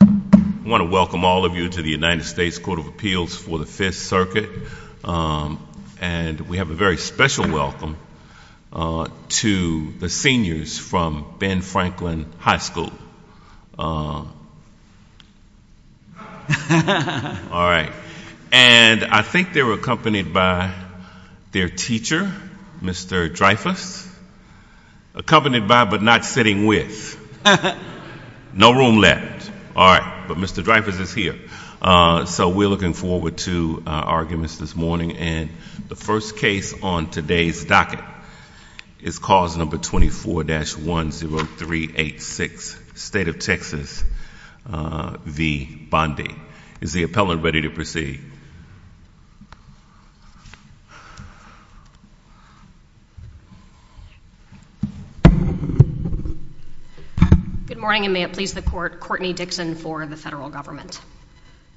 I want to welcome all of you to the United States Court of Appeals for the 5th Circuit, and we have a very special welcome to the seniors from Ben Franklin High School. All right, and I think they were accompanied by their teacher, Mr. Dreyfuss, accompanied by, but not sitting with, no room left. All right, but Mr. Dreyfuss is here. So we're looking forward to our arguments this morning, and the first case on today's docket is cause number 24-10386, State of Texas v. Bondi. Is the appellant ready to proceed? Good morning, and may it please the court, Courtney Dixon for the federal government.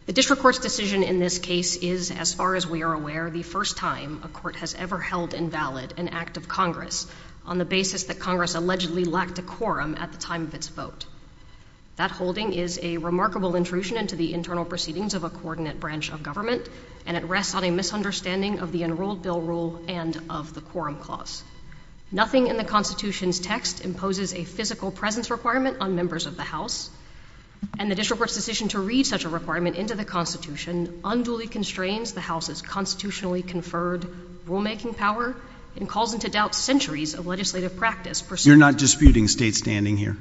The district court's decision in this case is, as far as we are aware, the first time a court has ever held invalid an act of Congress on the basis that Congress allegedly lacked a quorum at the time of its vote. That holding is a remarkable intrusion into the internal proceedings of a coordinate branch of government, and it rests on a misunderstanding of the enrolled bill rule and of the quorum clause. Nothing in the Constitution's text imposes a physical presence requirement on members of the House. And the district court's decision to read such a requirement into the Constitution unduly constrains the House's constitutionally conferred rulemaking power and calls into doubt centuries of legislative practice. You're not disputing state standing here?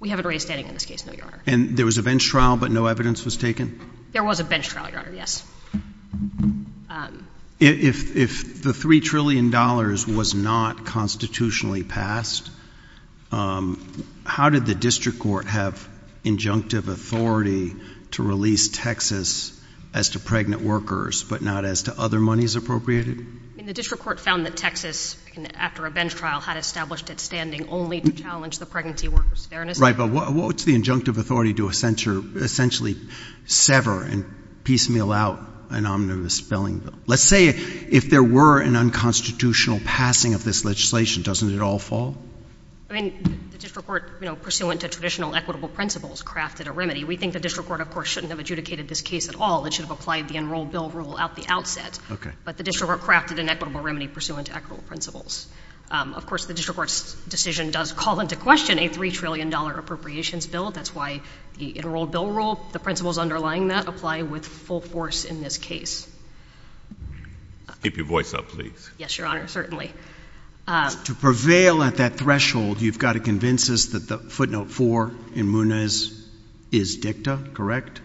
We haven't raised standing in this case, no, your honor. And there was a bench trial, but no evidence was taken? There was a bench trial, your honor, yes. If the $3 trillion was not constitutionally passed, how did the district court have injunctive authority to release Texas as to pregnant workers, but not as to other monies appropriated? The district court found that Texas, after a bench trial, had established its standing only to challenge the pregnancy workers' fairness. Right, but what's the injunctive authority to essentially sever and piecemeal out an omnibus billing bill? Let's say if there were an unconstitutional passing of this legislation, doesn't it all fall? I mean, the district court, pursuant to traditional equitable principles, crafted a remedy. We think the district court, of course, shouldn't have adjudicated this case at all. It should have applied the enrolled bill rule at the outset. Okay. But the district court crafted an equitable remedy pursuant to equitable principles. Of course, the district court's decision does call into question a $3 trillion appropriations bill. That's why the enrolled bill rule, the principles underlying that, apply with full force in this case. Keep your voice up, please. Yes, your honor, certainly. To prevail at that threshold, you've got to convince us that the footnote four in Munez is dicta, correct?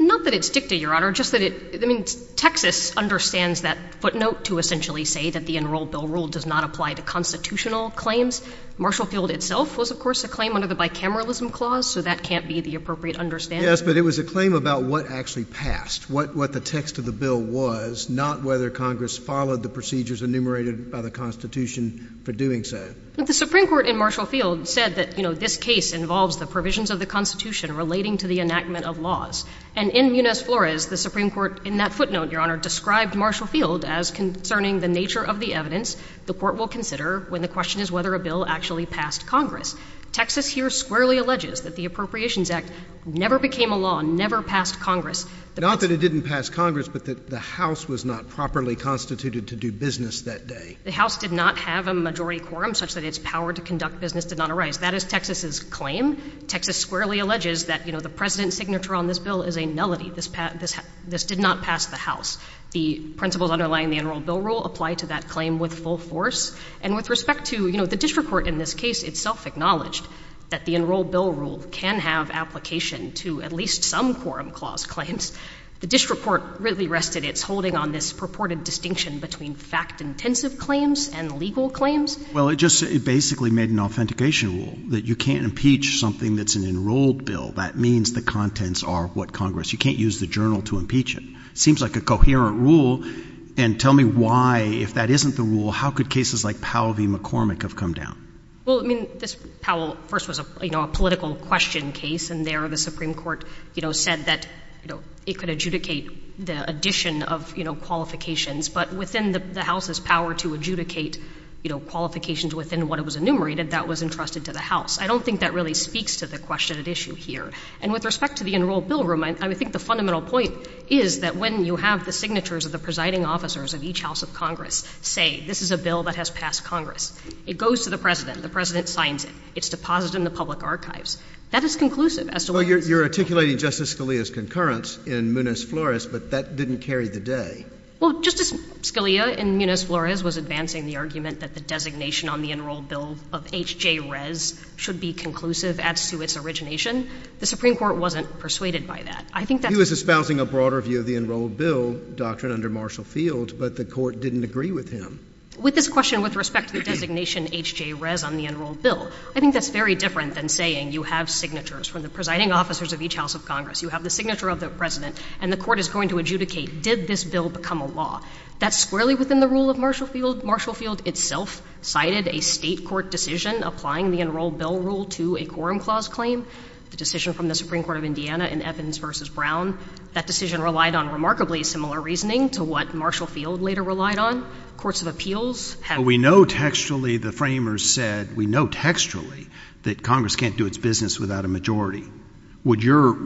Not that it's dicta, your honor. Just that it — I mean, Texas understands that footnote to essentially say that the enrolled bill rule does not apply to constitutional claims. Marshall Field itself was, of course, a claim under the bicameralism clause, so that can't be the appropriate understanding. Yes, but it was a claim about what actually passed, what the text of the bill was, not whether Congress followed the procedures enumerated by the Constitution for doing so. The Supreme Court in Marshall Field said that, you know, this case involves the provisions of the Constitution relating to the enactment of laws. And in Munez-Flores, the Supreme Court, in that footnote, your honor, described Marshall Field as concerning the nature of the evidence the court will consider when the question is whether a bill actually passed Congress. Texas here squarely alleges that the Appropriations Act never became a law, never passed Congress. Not that it didn't pass Congress, but that the House was not properly constituted to do business that day. The House did not have a majority quorum such that its power to conduct business did not arise. That is Texas's claim. Texas squarely alleges that, you know, the President's signature on this bill is a nullity. This did not pass the House. The principles underlying the enrolled bill rule apply to that claim with full force. And with respect to, you know, the district court in this case itself acknowledged that the enrolled bill rule can have application to at least some quorum clause claims. The district court really rested its holding on this purported distinction between fact-intensive claims and legal claims. Well, it just basically made an authentication rule that you can't impeach something that's an enrolled bill. That means the contents are what Congress, you can't use the journal to impeach it. Seems like a coherent rule. And tell me why, if that isn't the rule, how could cases like Powell v. McCormick have come down? Well, I mean, this Powell first was a, you know, a political question case. And there the Supreme Court, you know, said that, you know, it could adjudicate the addition of, you know, qualifications. But within the House's power to adjudicate, you know, qualifications within what it was enumerated, that was entrusted to the House. I don't think that really speaks to the question at issue here. And with respect to the enrolled bill rule, I think the fundamental point is that when you have the signatures of the presiding officers of each House of Congress say, this is a bill that has passed Congress. It goes to the president. The president signs it. It's deposited in the public archives. That is conclusive as to whether it's— Well, you're articulating Justice Scalia's concurrence in Muniz-Flores, but that didn't carry the day. Well, Justice Scalia in Muniz-Flores was advancing the argument that the designation on the enrolled bill of H.J. Rez should be conclusive as to its origination. The Supreme Court wasn't persuaded by that. I think that— He was espousing a broader view of the enrolled bill doctrine under Marshall Field, but the court didn't agree with him. With this question with respect to the designation H.J. Rez on the enrolled bill, I think that's very different than saying you have signatures from the presiding officers of each House of Congress. You have the signature of the president, and the court is going to adjudicate, did this bill become a law? That's squarely within the rule of Marshall Field. Marshall Field itself cited a state court decision applying the enrolled bill rule to a quorum clause claim, the decision from the Supreme Court of Indiana in Evans v. Brown. That decision relied on remarkably similar reasoning to what Marshall Field later relied on. Courts of appeals have— But we know textually, the framers said, we know textually that Congress can't do its business without a majority. Would your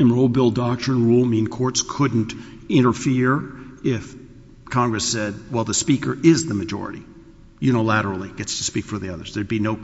enrolled bill doctrine rule mean courts couldn't interfere if Congress said, well, the Speaker is the majority, unilaterally gets to speak for the others? There'd be no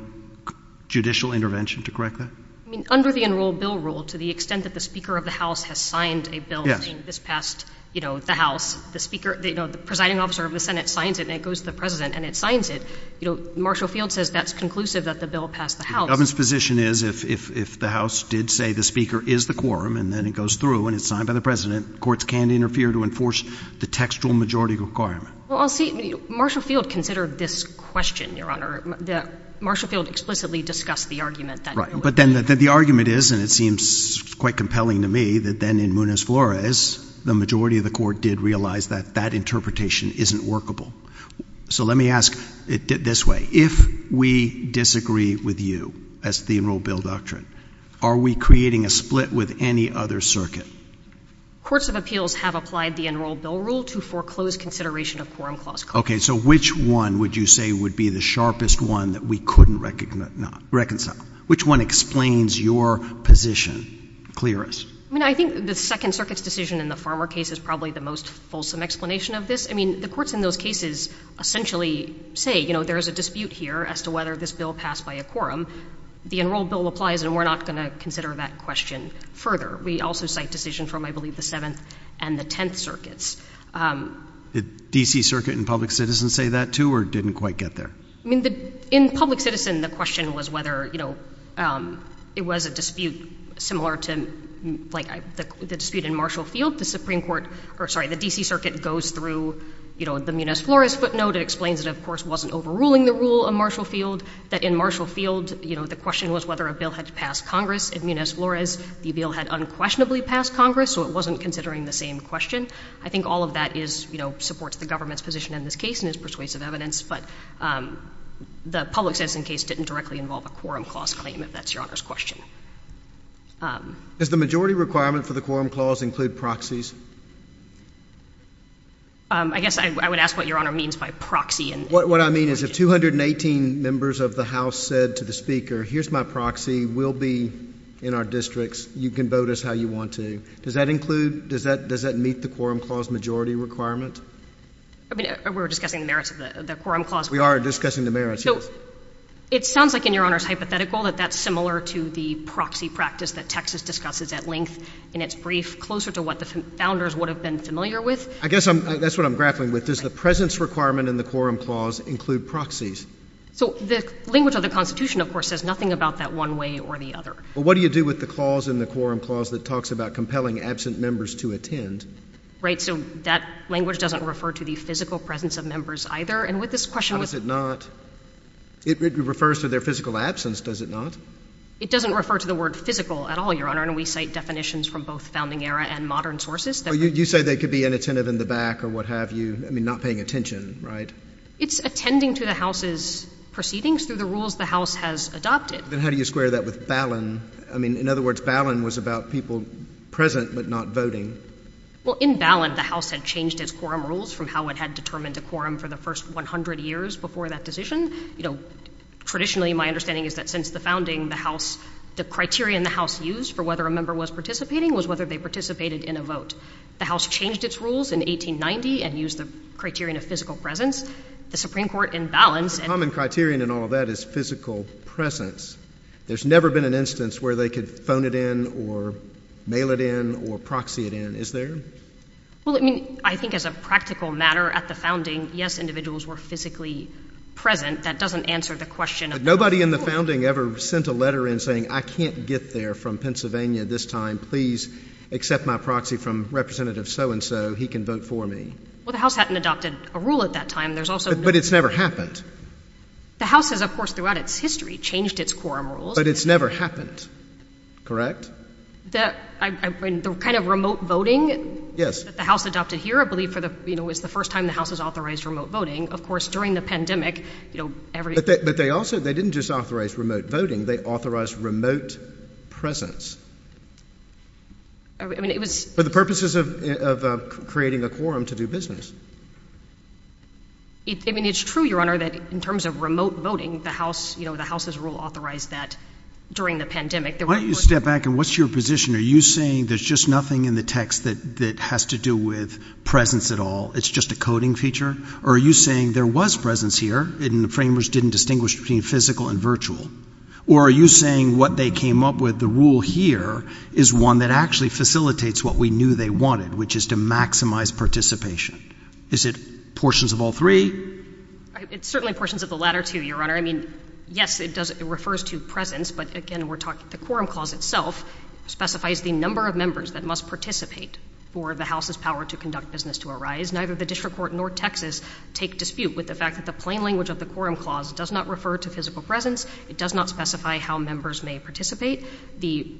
judicial intervention to correct that? I mean, under the enrolled bill rule, to the extent that the Speaker of the House has signed a bill— Yes. —this past, you know, the House, the Speaker, you know, the presiding officer of the Senate signs it, and it goes to the president, and it signs it, you know, Marshall Field says that's conclusive that the bill passed the House. But the government's position is, if the House did say the Speaker is the quorum, and then it goes through, and it's signed by the president, courts can interfere to enforce the textual majority requirement. Well, I'll see—Marshall Field considered this question, Your Honor, that Marshall Field explicitly discussed the argument that— Right. But then the argument is, and it seems quite compelling to me, that then in Munoz-Flores, the majority of the court did realize that that interpretation isn't workable. So let me ask it this way. If we disagree with you as to the enrolled bill doctrine, are we creating a split with any other circuit? Courts of appeals have applied the enrolled bill rule to foreclosed consideration of quorum clause— Okay. So which one would you say would be the sharpest one that we couldn't reconcile? Which one explains your position? Clear us. I mean, I think the Second Circuit's decision in the Farmer case is probably the most fulsome explanation of this. I mean, the courts in those cases essentially say, you know, there is a dispute here as to whether this bill passed by a quorum. The enrolled bill applies, and we're not going to consider that question further. We also cite decisions from, I believe, the Seventh and the Tenth Circuits. Did D.C. Circuit and Public Citizen say that, too, or didn't quite get there? I mean, in Public Citizen, the question was whether, you know, it was a dispute similar to, like, the dispute in Marshall Field. The Supreme Court—or, sorry, the D.C. Circuit goes through, you know, the Munoz-Flores footnote. It explains that, of course, it wasn't overruling the rule of Marshall Field, that in Marshall Field, you know, the question was whether a bill had passed Congress. In Munoz-Flores, the bill had unquestionably passed Congress, so it wasn't considering the same question. I think all of that is, you know, supports the government's position in this case and is persuasive evidence. But the Public Citizen case didn't directly involve a quorum clause claim, if that's Your Honor's question. Does the majority requirement for the quorum clause include proxies? I guess I would ask what Your Honor means by proxy. What I mean is if 218 members of the House said to the Speaker, here's my proxy, we'll be in our districts, you can vote us how you want to, does that include—does that meet the quorum clause majority requirement? I mean, we're discussing the merits of the quorum clause. We are discussing the merits, yes. So it sounds like, in Your Honor's hypothetical, that that's similar to the proxy practice that Texas discusses at length in its brief, closer to what the Founders would have been familiar with. I guess that's what I'm grappling with. Does the presence requirement in the quorum clause include proxies? So the language of the Constitution, of course, says nothing about that one way or the other. Well, what do you do with the clause in the quorum clause that talks about compelling absent members to attend? Right, so that language doesn't refer to the physical presence of members either. And with this question— How does it not? It refers to their physical absence, does it not? It doesn't refer to the word physical at all, Your Honor, and we cite definitions from both founding era and modern sources that— You say they could be inattentive in the back or what have you. I mean, not paying attention, right? It's attending to the House's proceedings through the rules the House has adopted. Then how do you square that with balun? I mean, in other words, balun was about people present but not voting. In balun, the House had changed its quorum rules from how it had determined a quorum for the first 100 years before that decision. Traditionally, my understanding is that since the founding, the criteria in the House used for whether a member was participating was whether they participated in a vote. The House changed its rules in 1890 and used the criterion of physical presence. The Supreme Court, in balun— The common criterion in all of that is physical presence. There's never been an instance where they could phone it in or mail it in or proxy it in, is there? Well, I mean, I think as a practical matter at the founding, yes, individuals were physically present. That doesn't answer the question of— Nobody in the founding ever sent a letter in saying, I can't get there from Pennsylvania this time. Please accept my proxy from Representative so-and-so. He can vote for me. Well, the House hadn't adopted a rule at that time. There's also— But it's never happened. The House has, of course, throughout its history changed its quorum rules. But it's never happened, correct? I mean, the kind of remote voting that the House adopted here, I believe, for the—you know, it's the first time the House has authorized remote voting. Of course, during the pandemic, you know, every— But they also—they didn't just authorize remote voting. They authorized remote presence. I mean, it was— For the purposes of creating a quorum to do business. I mean, it's true, Your Honor, that in terms of remote voting, the House, you know, the House's rule authorized that during the pandemic. Why don't you step back, and what's your position? Are you saying there's just nothing in the text that has to do with presence at all? It's just a coding feature? Or are you saying there was presence here, and the framers didn't distinguish between physical and virtual? Or are you saying what they came up with, the rule here, is one that actually facilitates what we knew they wanted, which is to maximize participation? Is it portions of all three? It's certainly portions of the latter two, Your Honor. I mean, yes, it does—it refers to presence. But again, we're talking—the quorum clause itself specifies the number of members that must participate for the House's power to conduct business to arise. Neither the district court nor Texas take dispute with the fact that the plain language of the quorum clause does not refer to physical presence. It does not specify how members may participate. The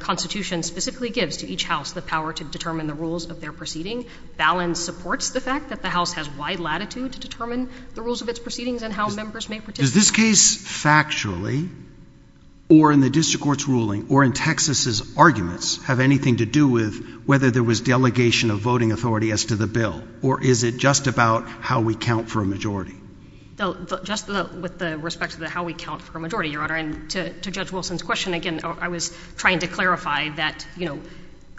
Constitution specifically gives to each House the power to determine the rules of their proceeding. Balance supports the fact that the House has wide latitude to determine the rules of its proceedings and how members may participate. Does this case, factually, or in the district court's ruling, or in Texas's arguments, have anything to do with whether there was delegation of voting authority as to the bill? Or is it just about how we count for a majority? Just with respect to how we count for a majority, Your Honor, and to Judge Wilson's question, again, I was trying to clarify that, you know,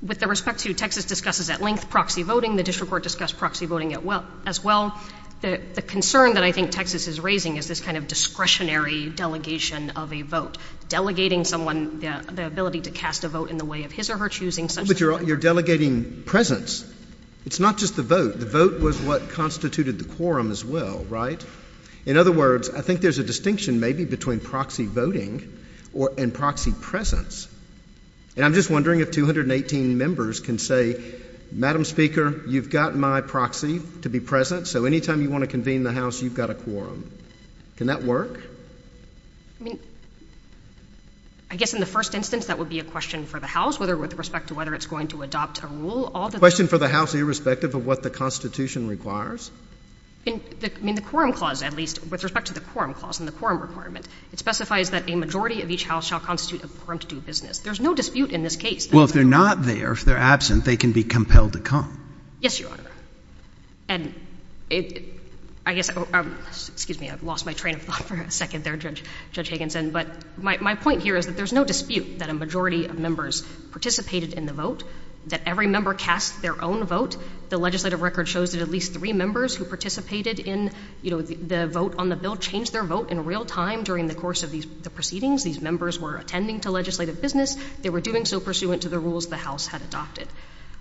with respect to Texas discusses at length proxy voting, the district court discussed proxy voting as well. The concern that I think Texas is raising is this kind of discretionary delegation of a vote, delegating someone the ability to cast a vote in the way of his or her choosing. But you're delegating presence. It's not just the vote. The vote was what constituted the quorum as well, right? In other words, I think there's a distinction, maybe, between proxy voting and proxy presence. And I'm just wondering if 218 members can say, Madam Speaker, you've got my proxy to be present, so anytime you want to convene the House, you've got a quorum. Can that work? I mean, I guess in the first instance, that would be a question for the House, whether with respect to whether it's going to adopt a rule. A question for the House, irrespective of what the Constitution requires? In the quorum clause, at least, with respect to the quorum clause and the quorum requirement, it specifies that a majority of each House shall constitute a quorum to do business. There's no dispute in this case. Well, if they're not there, if they're absent, they can be compelled to come. Yes, Your Honor. And I guess, excuse me, I've lost my train of thought for a second there, Judge Higginson. But my point here is that there's no dispute that a majority of members participated in the vote, that every member cast their own vote. The legislative record shows that at least three members who participated in the vote on the bill changed their vote in real time during the course of the proceedings. These members were attending to legislative business. They were doing so pursuant to the rules the House had adopted.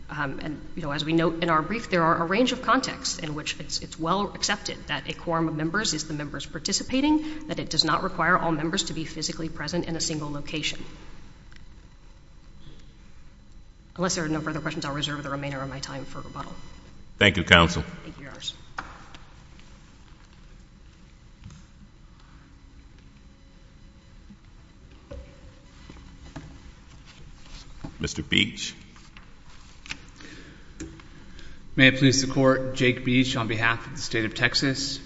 And, you know, as we note in our brief, there are a range of contexts in which it's well accepted that a quorum of members is the members participating, that it does not require all members to be physically present in a single location. Unless there are no further questions, I'll reserve the remainder of my time for rebuttal. Thank you, counsel. Mr. Beach. May it please the Court, Jake Beach on behalf of the state of Texas.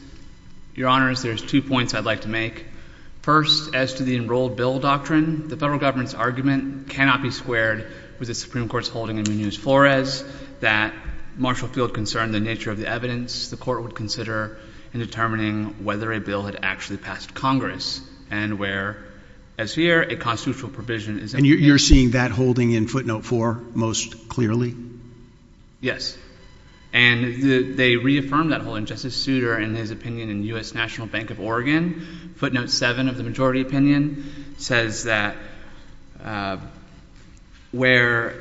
Your Honors, there's two points I'd like to make. First, as to the enrolled bill doctrine, the federal government's argument cannot be squared with the Supreme Court's holding in Munoz-Flores that Marshall Field concerned the nature of the evidence the Court would consider in determining whether a bill had actually passed Congress and where, as here, a constitutional provision is... And you're seeing that holding in footnote four most clearly? Yes. And they reaffirmed that holding. Justice Souter, in his opinion in U.S. National Bank of Oregon, footnote seven of the majority opinion, says that where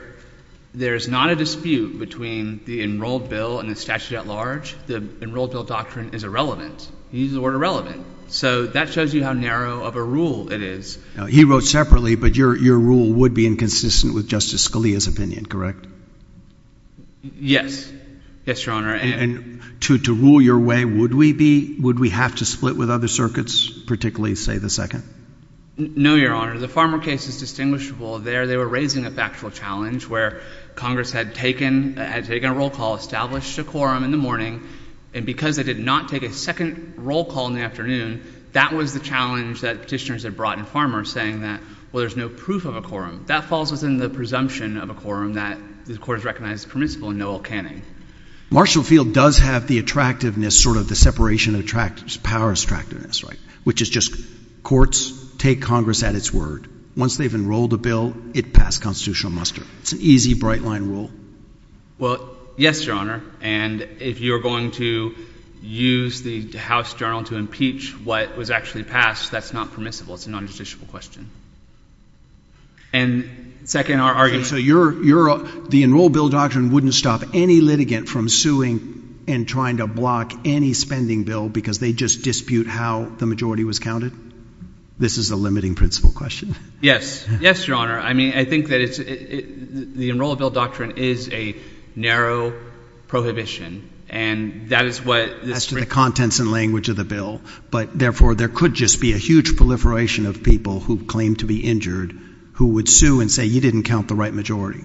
there's not a dispute between the enrolled bill and the statute at large, the enrolled bill doctrine is irrelevant. He uses the word irrelevant. So that shows you how narrow of a rule it is. He wrote separately, but your rule would be inconsistent with Justice Scalia's opinion, correct? Yes. Yes, Your Honor. And to rule your way, would we be... Would we have to split with other circuits, particularly, say, the second? No, Your Honor. The Farmer case is distinguishable there. They were raising a factual challenge where Congress had taken a roll call, established a quorum in the morning, and because they did not take a second roll call in the afternoon, that was the challenge that petitioners had brought in Farmer saying that, well, there's no proof of a quorum. That falls within the presumption of a quorum that the court has recognized permissible in Noel Canning. Marshall Field does have the attractiveness, sort of the separation of powers attractiveness, right? Which is just courts take Congress at its word. Once they've enrolled a bill, it passed constitutional muster. It's an easy bright line rule. Well, yes, Your Honor. And if you're going to use the House journal to impeach what was actually passed, that's not permissible. It's a non-judiciable question. And second, our argument. So the enroll bill doctrine wouldn't stop any litigant from suing and trying to block any spending bill because they just dispute how the majority was counted? This is a limiting principle question. Yes. Yes, Your Honor. I mean, I think that the enroll bill doctrine is a narrow prohibition, and that is what this... As to the contents and language of the bill. But therefore, there could just be a huge proliferation of people who claim to be injured, who would sue and say, you didn't count the right majority.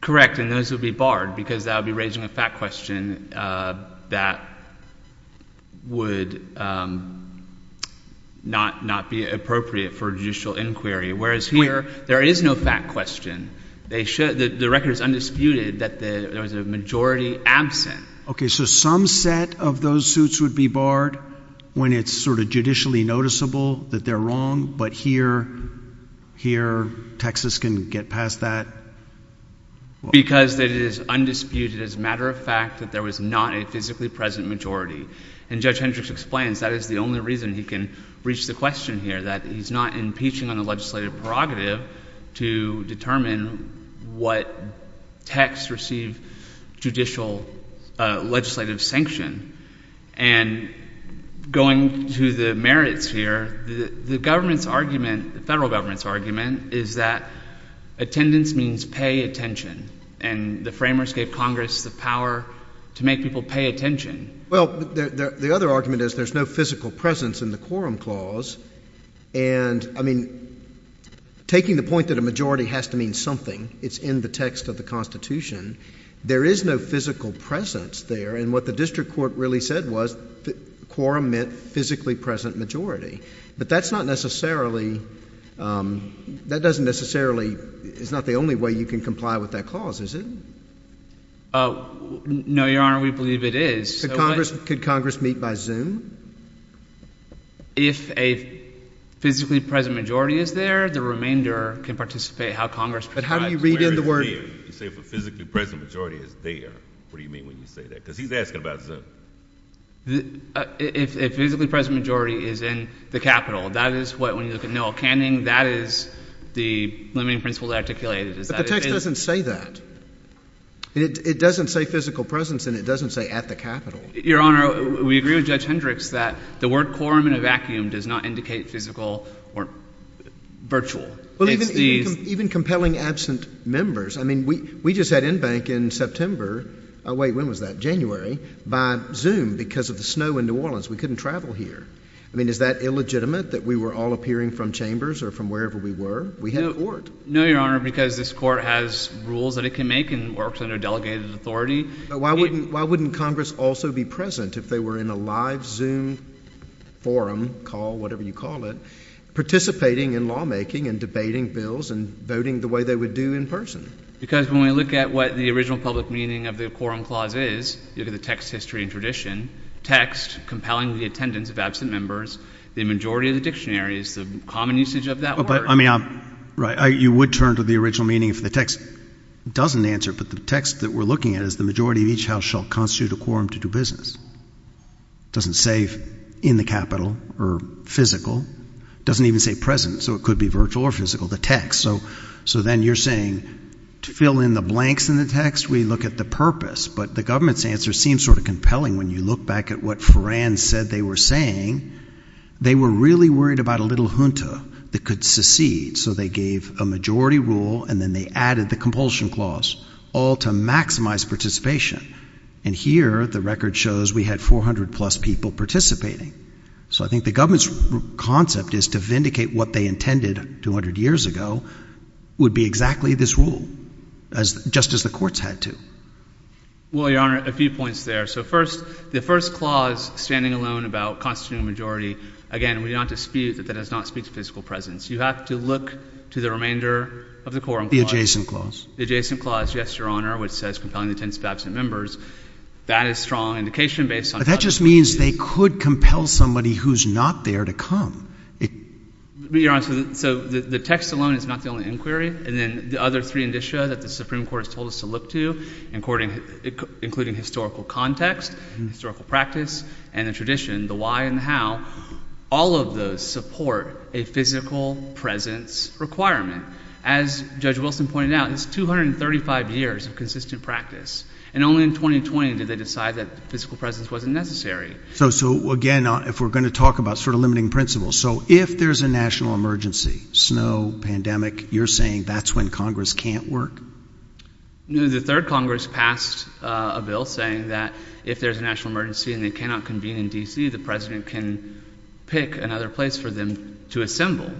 Correct, and those would be barred because that would be raising a fact question that would not be appropriate for judicial inquiry. Whereas here, there is no fact question. The record is undisputed that there was a majority absent. Okay, so some set of those suits would be barred when it's sort of judicially noticeable that they're wrong, but here, Texas can get past that? Because it is undisputed as a matter of fact that there was not a physically present majority. And Judge Hendricks explains that is the only reason he can reach the question here, that he's not impeaching on a legislative prerogative to determine what texts receive judicial legislative sanction. And going to the merits here, the government's argument, the federal government's argument is that attendance means pay attention. And the framers gave Congress the power to make people pay attention. Well, the other argument is there's no physical presence in the quorum clause. And I mean, taking the point that a majority has to mean something, it's in the text of the Constitution. There is no physical presence there. And what the district court really said was the quorum meant physically present majority. But that's not necessarily, that doesn't necessarily, it's not the only way you can comply with that clause, is it? Oh, no, Your Honor, we believe it is. Could Congress meet by Zoom? If a physically present majority is there, the remainder can participate how Congress prescribes. But how do you read in the word? You say if a physically present majority is there, what do you mean when you say that? Because he's asking about Zoom. If a physically present majority is in the Capitol, that is what, when you look at Noel Canning, that is the limiting principle articulated. But the text doesn't say that. It doesn't say physical presence and it doesn't say at the Capitol. Your Honor, we agree with Judge Hendricks that the word quorum in a vacuum does not indicate physical or virtual. Well, even compelling absent members. I mean, we just had in-bank in September. Oh, wait, when was that? January by Zoom because of the snow in New Orleans. We couldn't travel here. I mean, is that illegitimate that we were all appearing from chambers or from wherever we were? We had court. No, Your Honor, because this court has rules that it can make and works under delegated authority. Why wouldn't Congress also be present if they were in a live Zoom forum call, whatever you call it, participating in lawmaking and debating bills and voting the way they would do in person? Because when we look at what the original public meeting of the quorum clause is, you look at the text history and tradition, text compelling the attendance of absent members, the majority of the dictionary is the common usage of that word. But I mean, right, you would turn to the original meaning if the text doesn't answer, but the text that we're looking at is the majority of each house shall constitute a quorum to do business. It doesn't say in the Capitol or physical, doesn't even say present. So it could be virtual or physical, the text. So then you're saying to fill in the blanks in the text, we look at the purpose, but the government's answer seems sort of compelling when you look back at what Foran said they were saying, they were really worried about a little junta that could secede. So they gave a majority rule and then they added the compulsion clause all to maximize participation. And here the record shows we had 400 plus people participating. So I think the government's concept is to vindicate what they intended 200 years ago would be exactly this rule, just as the courts had to. Well, Your Honor, a few points there. So first, the first clause standing alone about constituting a majority, again, we do not dispute that that does not speak to physical presence. You have to look to the remainder of the quorum clause. The adjacent clause. The adjacent clause, yes, Your Honor, which says compelling the intents of absent members. That is strong indication based on- That just means they could compel somebody who's not there to come. But Your Honor, so the text alone is not the only inquiry. And then the other three indicia that the Supreme Court has told us to look to, including historical context, historical practice, and the tradition, the why and how, all of those support a physical presence requirement. As Judge Wilson pointed out, it's 235 years of consistent practice. And only in 2020 did they decide that physical presence wasn't necessary. So again, if we're going to talk about sort of limiting principles. So if there's a national emergency, snow, pandemic, you're saying that's when Congress can't work? The third Congress passed a bill saying that if there's a national emergency and they cannot convene in D.C., the president can pick another place for them to assemble.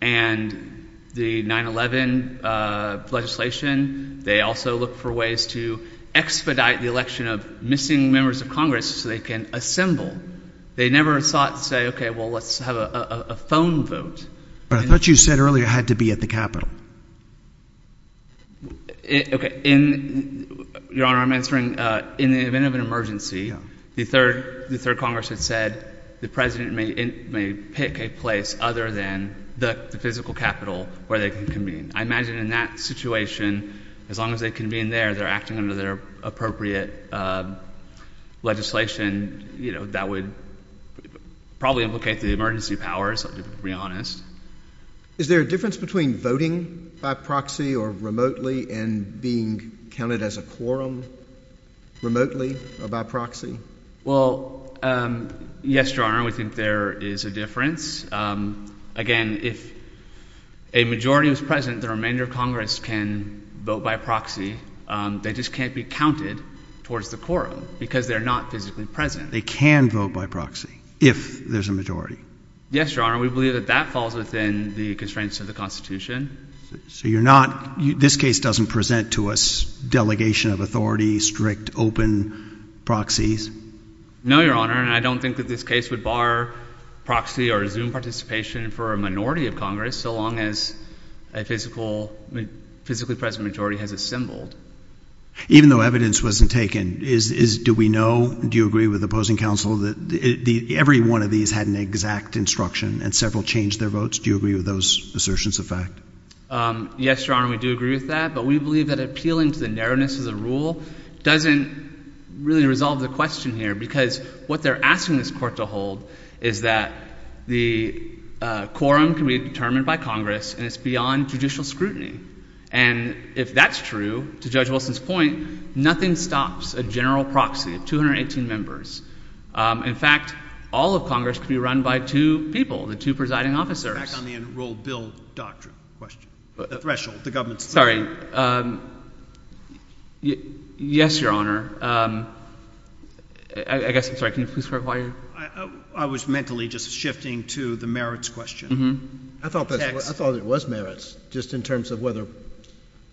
And the 9-11 legislation, they also look for ways to expedite the election of missing members of Congress so they can assemble. They never thought to say, well, let's have a phone vote. But I thought you said earlier it had to be at the Capitol. Okay. Your Honor, I'm answering, in the event of an emergency, the third Congress had said the president may pick a place other than the physical Capitol where they can convene. I imagine in that situation, as long as they convene there, they're acting under their appropriate legislation that would probably implicate the emergency powers, I'll be honest. Is there a difference between voting by proxy or remotely and being counted as a quorum remotely or by proxy? Well, yes, Your Honor, we think there is a difference. Again, if a majority was present, the remainder of Congress can vote by proxy. They just can't be counted towards the quorum because they're not physically present. They can vote by proxy if there's a majority. Yes, Your Honor. We believe that that falls within the constraints of the Constitution. So you're not, this case doesn't present to us delegation of authority, strict, open proxies? No, Your Honor. And I don't think that this case would bar proxy or Zoom participation for a minority of Congress so long as a physically present majority has assembled. Even though evidence wasn't taken, do we know, do you agree with opposing counsel that every one of these had an exact instruction and several changed their votes? Do you agree with those assertions of fact? Yes, Your Honor, we do agree with that. But we believe that appealing to the narrowness of the rule doesn't really resolve the question here because what they're asking this court to hold is that the quorum can be determined by Congress and it's beyond judicial scrutiny. And if that's true, to Judge Wilson's point, nothing stops a general proxy of 218 members. In fact, all of Congress could be run by two people, the two presiding officers. Back on the enrolled bill doctrine question, the threshold, the government's threshold. Sorry. Yes, Your Honor. I guess, I'm sorry, can you please clarify? I was mentally just shifting to the merits question. I thought it was merits, just in terms of whether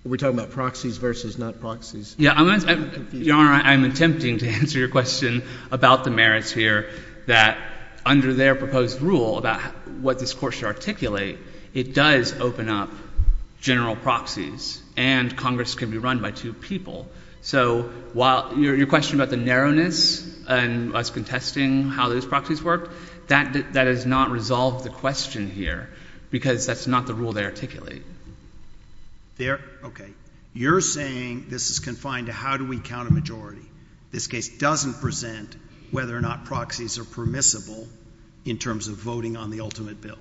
we're talking about proxies versus not proxies. Your Honor, I'm attempting to answer your question about the merits here that under their proposed rule about what this court should articulate, it does open up general proxies and Congress can be run by two people. So while your question about the narrowness and us contesting how those proxies work, that does not resolve the question here because that's not the rule they articulate. Okay, you're saying this is confined to how do we count a majority? This case doesn't present whether or not proxies are permissible in terms of voting on the ultimate bill.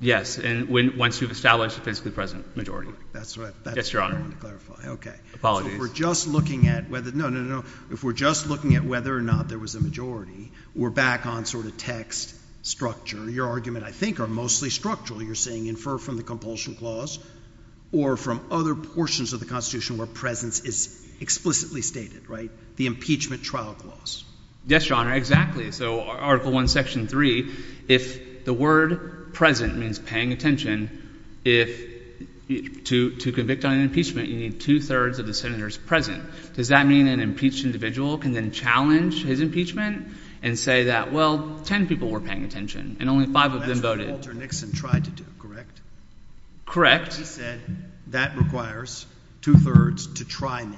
Yes, and once you've established a physically present majority. That's what I wanted to clarify. Okay. Apologies. So if we're just looking at whether, no, no, no, no. If we're just looking at whether or not there was a majority, we're back on sort of text structure. Your argument, I think, are mostly structural. You're saying infer from the compulsion clause or from other portions of the Constitution where presence is explicitly stated, right? The impeachment trial clause. Yes, Your Honor, exactly. So Article I, Section 3, if the word present means paying attention, if to convict on an impeachment, you need two-thirds of the senators present. Does that mean an impeached individual can then challenge his impeachment and say that, well, 10 people were paying attention and only five of them voted? That's what Walter Nixon tried to do, correct? Correct. He said that requires two-thirds to try me.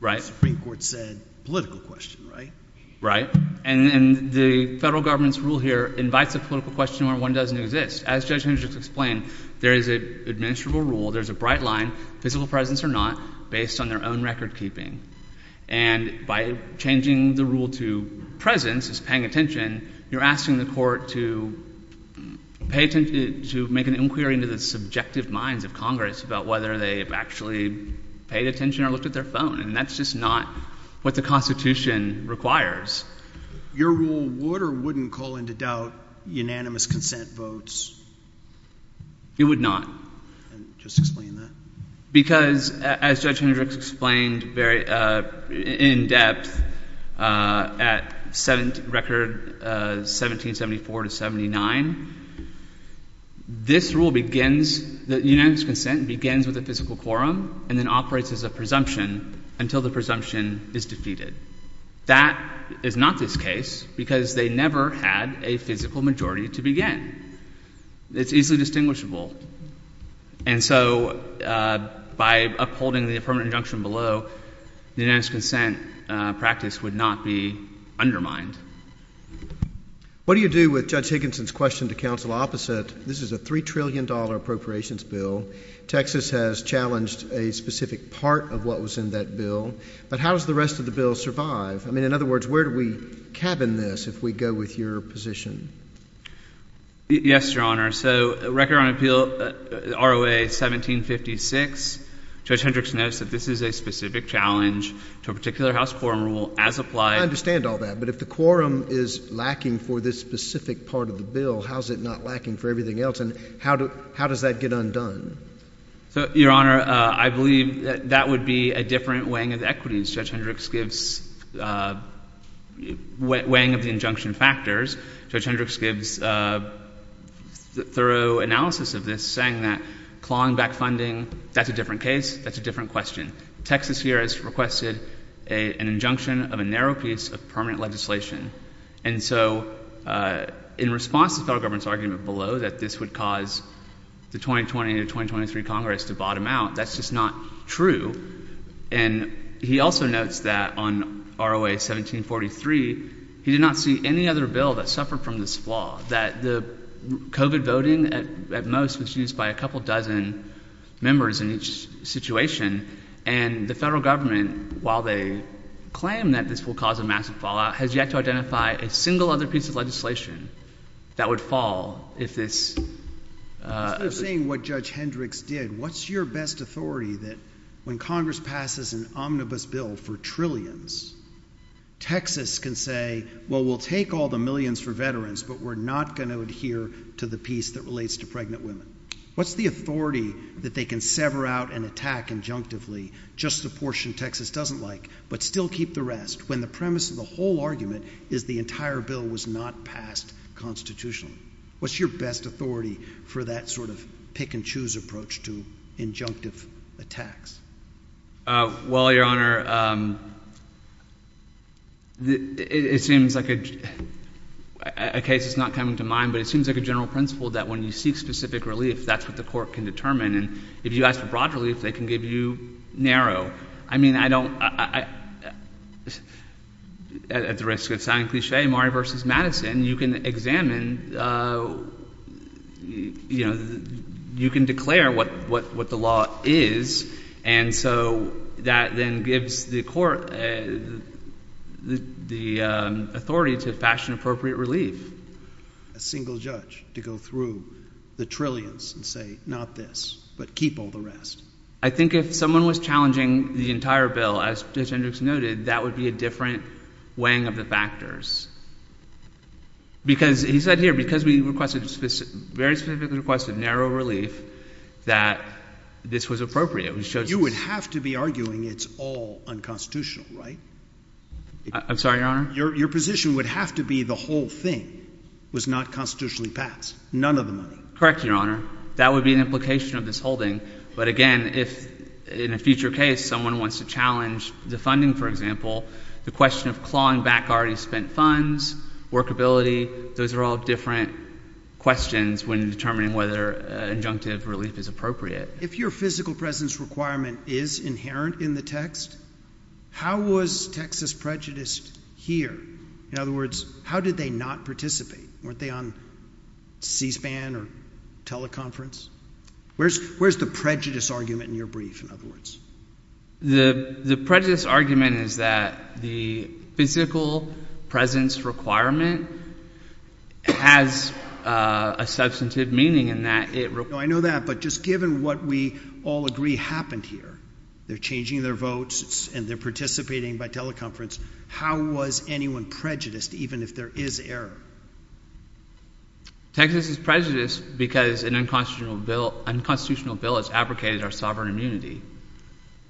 Right. The Supreme Court said political question, right? Right. And the federal government's rule here invites a political question where one doesn't exist. As Judge Hendricks explained, there is an administrable rule, there's a bright line, physical presence or not, based on their own record keeping. And by changing the rule to presence is paying attention, you're asking the court to pay attention to make an inquiry into the subjective minds of Congress about whether they've actually paid attention or looked at their phone. And that's just not what the Constitution requires. Your rule would or wouldn't call into doubt unanimous consent votes? It would not. Just explain that. Because as Judge Hendricks explained very in-depth at record 1774 to 79, this rule begins, the unanimous consent begins with a physical quorum and then operates as a presumption until the presumption is defeated. That is not this case because they never had a physical majority to begin. It's easily distinguishable. And so by upholding the permanent injunction below, the unanimous consent practice would not be undermined. What do you do with Judge Higginson's question to counsel opposite? This is a $3 trillion appropriations bill. Texas has challenged a specific part of what was in that bill. But how does the rest of the bill survive? I mean, in other words, where do we cabin this if we go with your position? Yes, Your Honor. So record on appeal, ROA 1756, Judge Hendricks notes that this is a specific challenge to a particular house quorum rule as applied. I understand all that. But if the quorum is lacking for this specific part of the bill, how is it not lacking for everything else? And how does that get undone? So, Your Honor, I believe that that would be a different weighing of equities. Judge Hendricks gives weighing of the injunction factors. Judge Hendricks gives thorough analysis of this, saying that clawing back funding, that's a different case. That's a different question. Texas here has requested an injunction of a narrow piece of permanent legislation. And so in response to federal government's argument below that this would cause the 2020 to 2023 Congress to bottom out. That's just not true. And he also notes that on ROA 1743, he did not see any other bill that suffered from this flaw that the COVID voting at most was used by a couple dozen members in each situation. And the federal government, while they claim that this will cause a massive fallout, has yet to identify a single other piece of legislation that would fall if this... Instead of saying what Judge Hendricks did, what's your best authority that when Congress passes an omnibus bill for trillions, Texas can say, well, we'll take all the millions for veterans, but we're not going to adhere to the piece that relates to pregnant women. What's the authority that they can sever out and attack injunctively just the portion Texas doesn't like, but still keep the rest when the premise of the whole argument is the entire bill was not passed constitutionally? What's your best authority for that sort of pick and choose approach to injunctive attacks? Well, Your Honor, it seems like a case that's not coming to mind, but it seems like a general principle that when you seek specific relief, that's what the court can determine. And if you ask for broad relief, they can give you narrow. I mean, I don't... At the risk of sounding cliche, Maury versus Madison, you can examine... You can declare what the law is. And so that then gives the court the authority to fashion appropriate relief. A single judge to go through the trillions and say, not this, but keep all the rest. I think if someone was challenging the entire bill, as Judge Hendricks noted, that would be a different weighing of the factors. Because he said here, because we requested very specifically requested narrow relief, that this was appropriate. You would have to be arguing it's all unconstitutional, right? I'm sorry, Your Honor? Your position would have to be the whole thing was not constitutionally passed. None of the money. Correct, Your Honor. That would be an implication of this holding. But again, if in a future case, someone wants to challenge the funding, for example, the question of clawing back already spent funds, workability. Those are all different questions when determining whether injunctive relief is appropriate. If your physical presence requirement is inherent in the text, how was Texas prejudiced here? In other words, how did they not participate? Weren't they on C-SPAN or teleconference? Where's the prejudice argument in your brief, in other words? The prejudice argument is that the physical presence requirement has a substantive meaning in that it... I know that, but just given what we all agree happened here, they're changing their votes and they're participating by teleconference. How was anyone prejudiced, even if there is error? Texas is prejudiced because an unconstitutional bill has abrogated our sovereign immunity.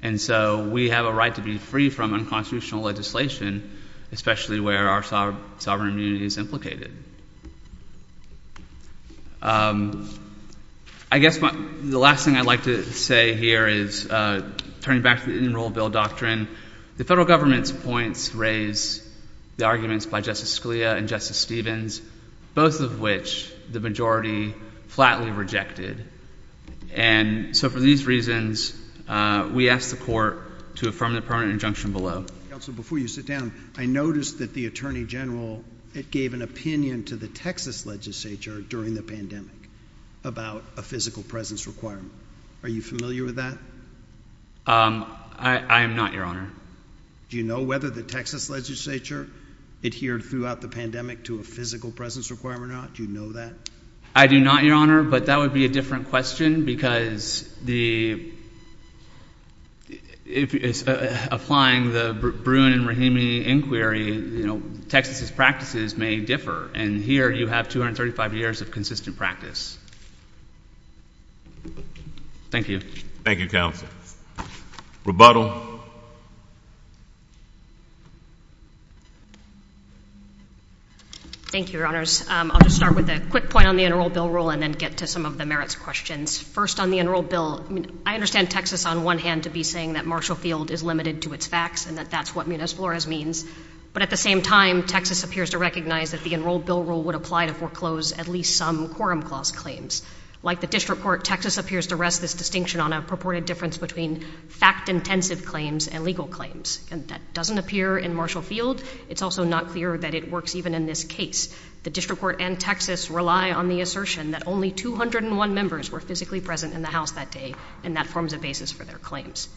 And so we have a right to be free from unconstitutional legislation, especially where our sovereign immunity is implicated. I guess the last thing I'd like to say here is turning back to the Enroll Bill Doctrine. The federal government's points raise the arguments by Justice Scalia and Justice Stevens, both of which the majority flatly rejected. And so for these reasons, we asked the court to affirm the permanent injunction below. Counsel, before you sit down, I noticed that the attorney general, it gave an opinion to the Texas legislature during the pandemic about a physical presence requirement. Are you familiar with that? I am not, Your Honor. Do you know whether the Texas legislature adhered throughout the pandemic to a physical presence requirement or not? Do you know that? I do not, Your Honor, but that would be a different question because the... applying the Bruin and Rahimi inquiry, you know, Texas's practices may differ. And here you have 235 years of consistent practice. Thank you. Thank you, Counsel. Rebuttal. Thank you, Your Honors. I'll just start with a quick point on the Enroll Bill rule and then get to some of the merits questions. First, on the Enroll Bill, I understand Texas, on one hand, to be saying that Marshall Field is limited to its facts and that that's what Munoz-Flores means. But at the same time, Texas appears to recognize that the Enroll Bill rule would apply to foreclose at least some quorum clause claims. Like the District Court, Texas appears to rest this distinction on a purported difference between fact-intensive claims and legal claims. And that doesn't appear in Marshall Field. It's also not clear that it works even in this case. The District Court and Texas rely on the assertion that only 201 members were physically present in the House that day, and that forms a basis for their claims.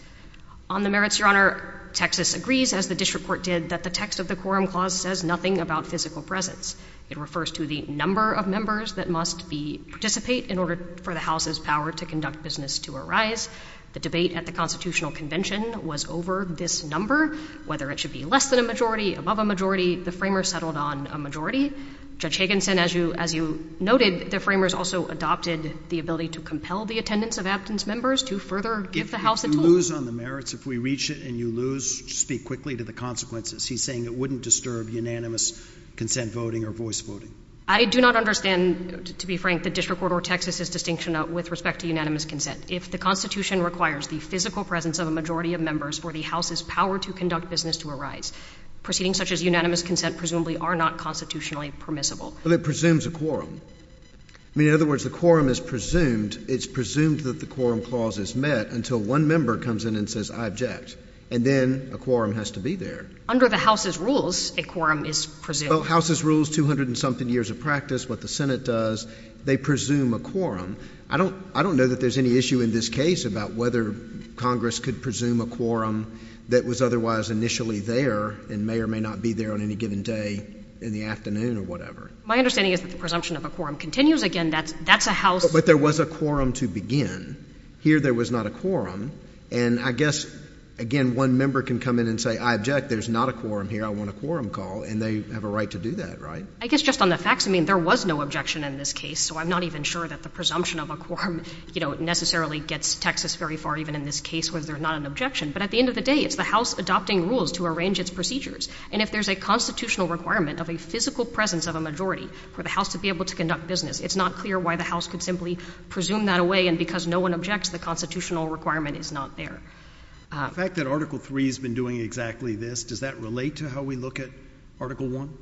On the merits, Your Honor, Texas agrees, as the District Court did, that the text of the quorum clause says nothing about physical presence. It refers to the number of members that must participate in order for the House's power to conduct business to arise. The debate at the Constitutional Convention was over this number. Whether it should be less than a majority, above a majority, the framers settled on a majority. Judge Higginson, as you noted, the framers also adopted the ability to compel the attendance of absent members to further give the House a tool. If you lose on the merits, if we reach it and you lose, speak quickly to the consequences. He's saying it wouldn't disturb unanimous consent voting or voice voting. I do not understand, to be frank, the District Court or Texas's distinction with respect to unanimous consent. If the Constitution requires the physical presence of a majority of members for the House's power to conduct business to arise, proceedings such as unanimous consent presumably are not constitutionally permissible. But it presumes a quorum. I mean, in other words, the quorum is presumed, it's presumed that the quorum clause is met until one member comes in and says, I object. And then a quorum has to be there. Under the House's rules, a quorum is presumed. Well, House's rules, 200 and something years of practice, what the Senate does, they presume a quorum. I don't know that there's any issue in this case about whether Congress could presume a quorum that was otherwise initially there and may or may not be there on any given day in the afternoon or whatever. My understanding is that the presumption of a quorum continues again. That's a House— But there was a quorum to begin. Here there was not a quorum. And I guess, again, one member can come in and say, I object. There's not a quorum here. I want a quorum call. And they have a right to do that, right? I guess just on the facts, I mean, there was no objection in this case. So I'm not even sure that the presumption of a quorum, you know, necessarily gets Texas very far even in this case where there's not an objection. But at the end of the day, it's the House adopting rules to arrange its procedures. And if there's a constitutional requirement of a physical presence of a majority for the House to be able to conduct business, it's not clear why the House could simply presume that away. And because no one objects, the constitutional requirement is not there. The fact that Article 3 has been doing exactly this, does that relate to how we look at Article 1?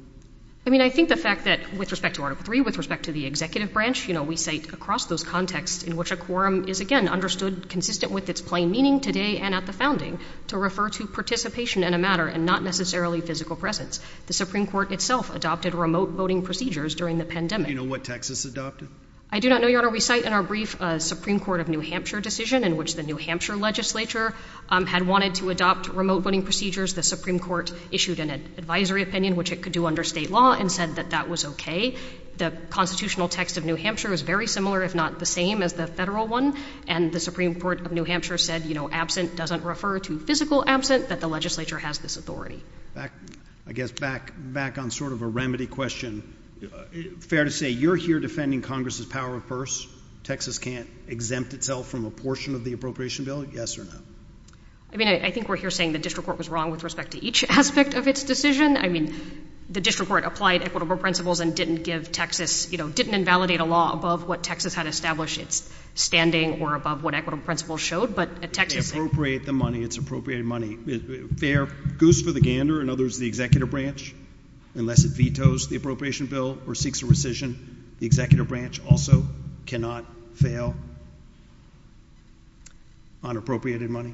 I mean, I think the fact that with respect to Article 3, with respect to the executive branch, you know, we say across those contexts in which a quorum is, again, understood consistent with its plain meaning today and at the founding to refer to participation in a matter and not necessarily physical presence. The Supreme Court itself adopted remote voting procedures during the pandemic. Do you know what Texas adopted? I do not know, Your Honor. We cite in our brief a Supreme Court of New Hampshire decision in which the New Hampshire legislature had wanted to adopt remote voting procedures. The Supreme Court issued an advisory opinion, which it could do under state law and said that that was OK. The constitutional text of New Hampshire is very similar, if not the same as the federal one. And the Supreme Court of New Hampshire said, you know, absent doesn't refer to physical absent, that the legislature has this authority. Back, I guess, back, back on sort of a remedy question. Fair to say you're here defending Congress's power first, Texas can't exempt itself from a portion of the appropriation bill. Yes or no? I mean, I think we're here saying the district court was wrong with respect to each aspect of its decision. I mean, the district court applied equitable principles and didn't give Texas, you know, didn't invalidate a law above what Texas had established its standing or above what equitable principles showed. But Texas. Appropriate the money, it's appropriated money. Fair goose for the gander and others, the executive branch, unless it vetoes the appropriation bill or seeks a rescission. The executive branch also cannot fail. On appropriated money.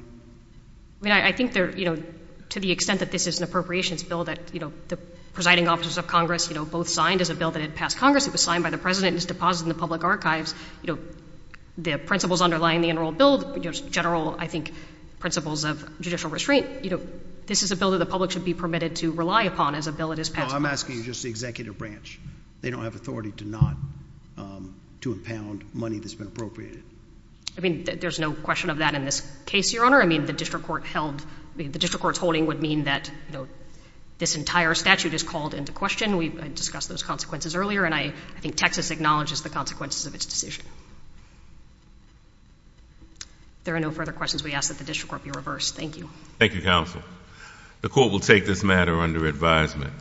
I mean, I think they're, you know, to the extent that this is an appropriations bill that, you know, the presiding officers of Congress, you know, both signed as a bill that had passed Congress. It was signed by the president and is deposited in the public archives. You know, the principles underlying the general bill, general, I think, principles of judicial restraint. You know, this is a bill that the public should be permitted to rely upon as a bill. It is. I'm asking you just the executive branch. They don't have authority to not to impound money that's been appropriated. I mean, there's no question of that in this case, your honor. I mean, the district court held the district court's holding would mean that, you know, this entire statute is called into question. We discussed those consequences earlier. And I think Texas acknowledges the consequences of its decision. There are no further questions. We ask that the district court be reversed. Thank you. Thank you, counsel. The court will take this matter under advisement.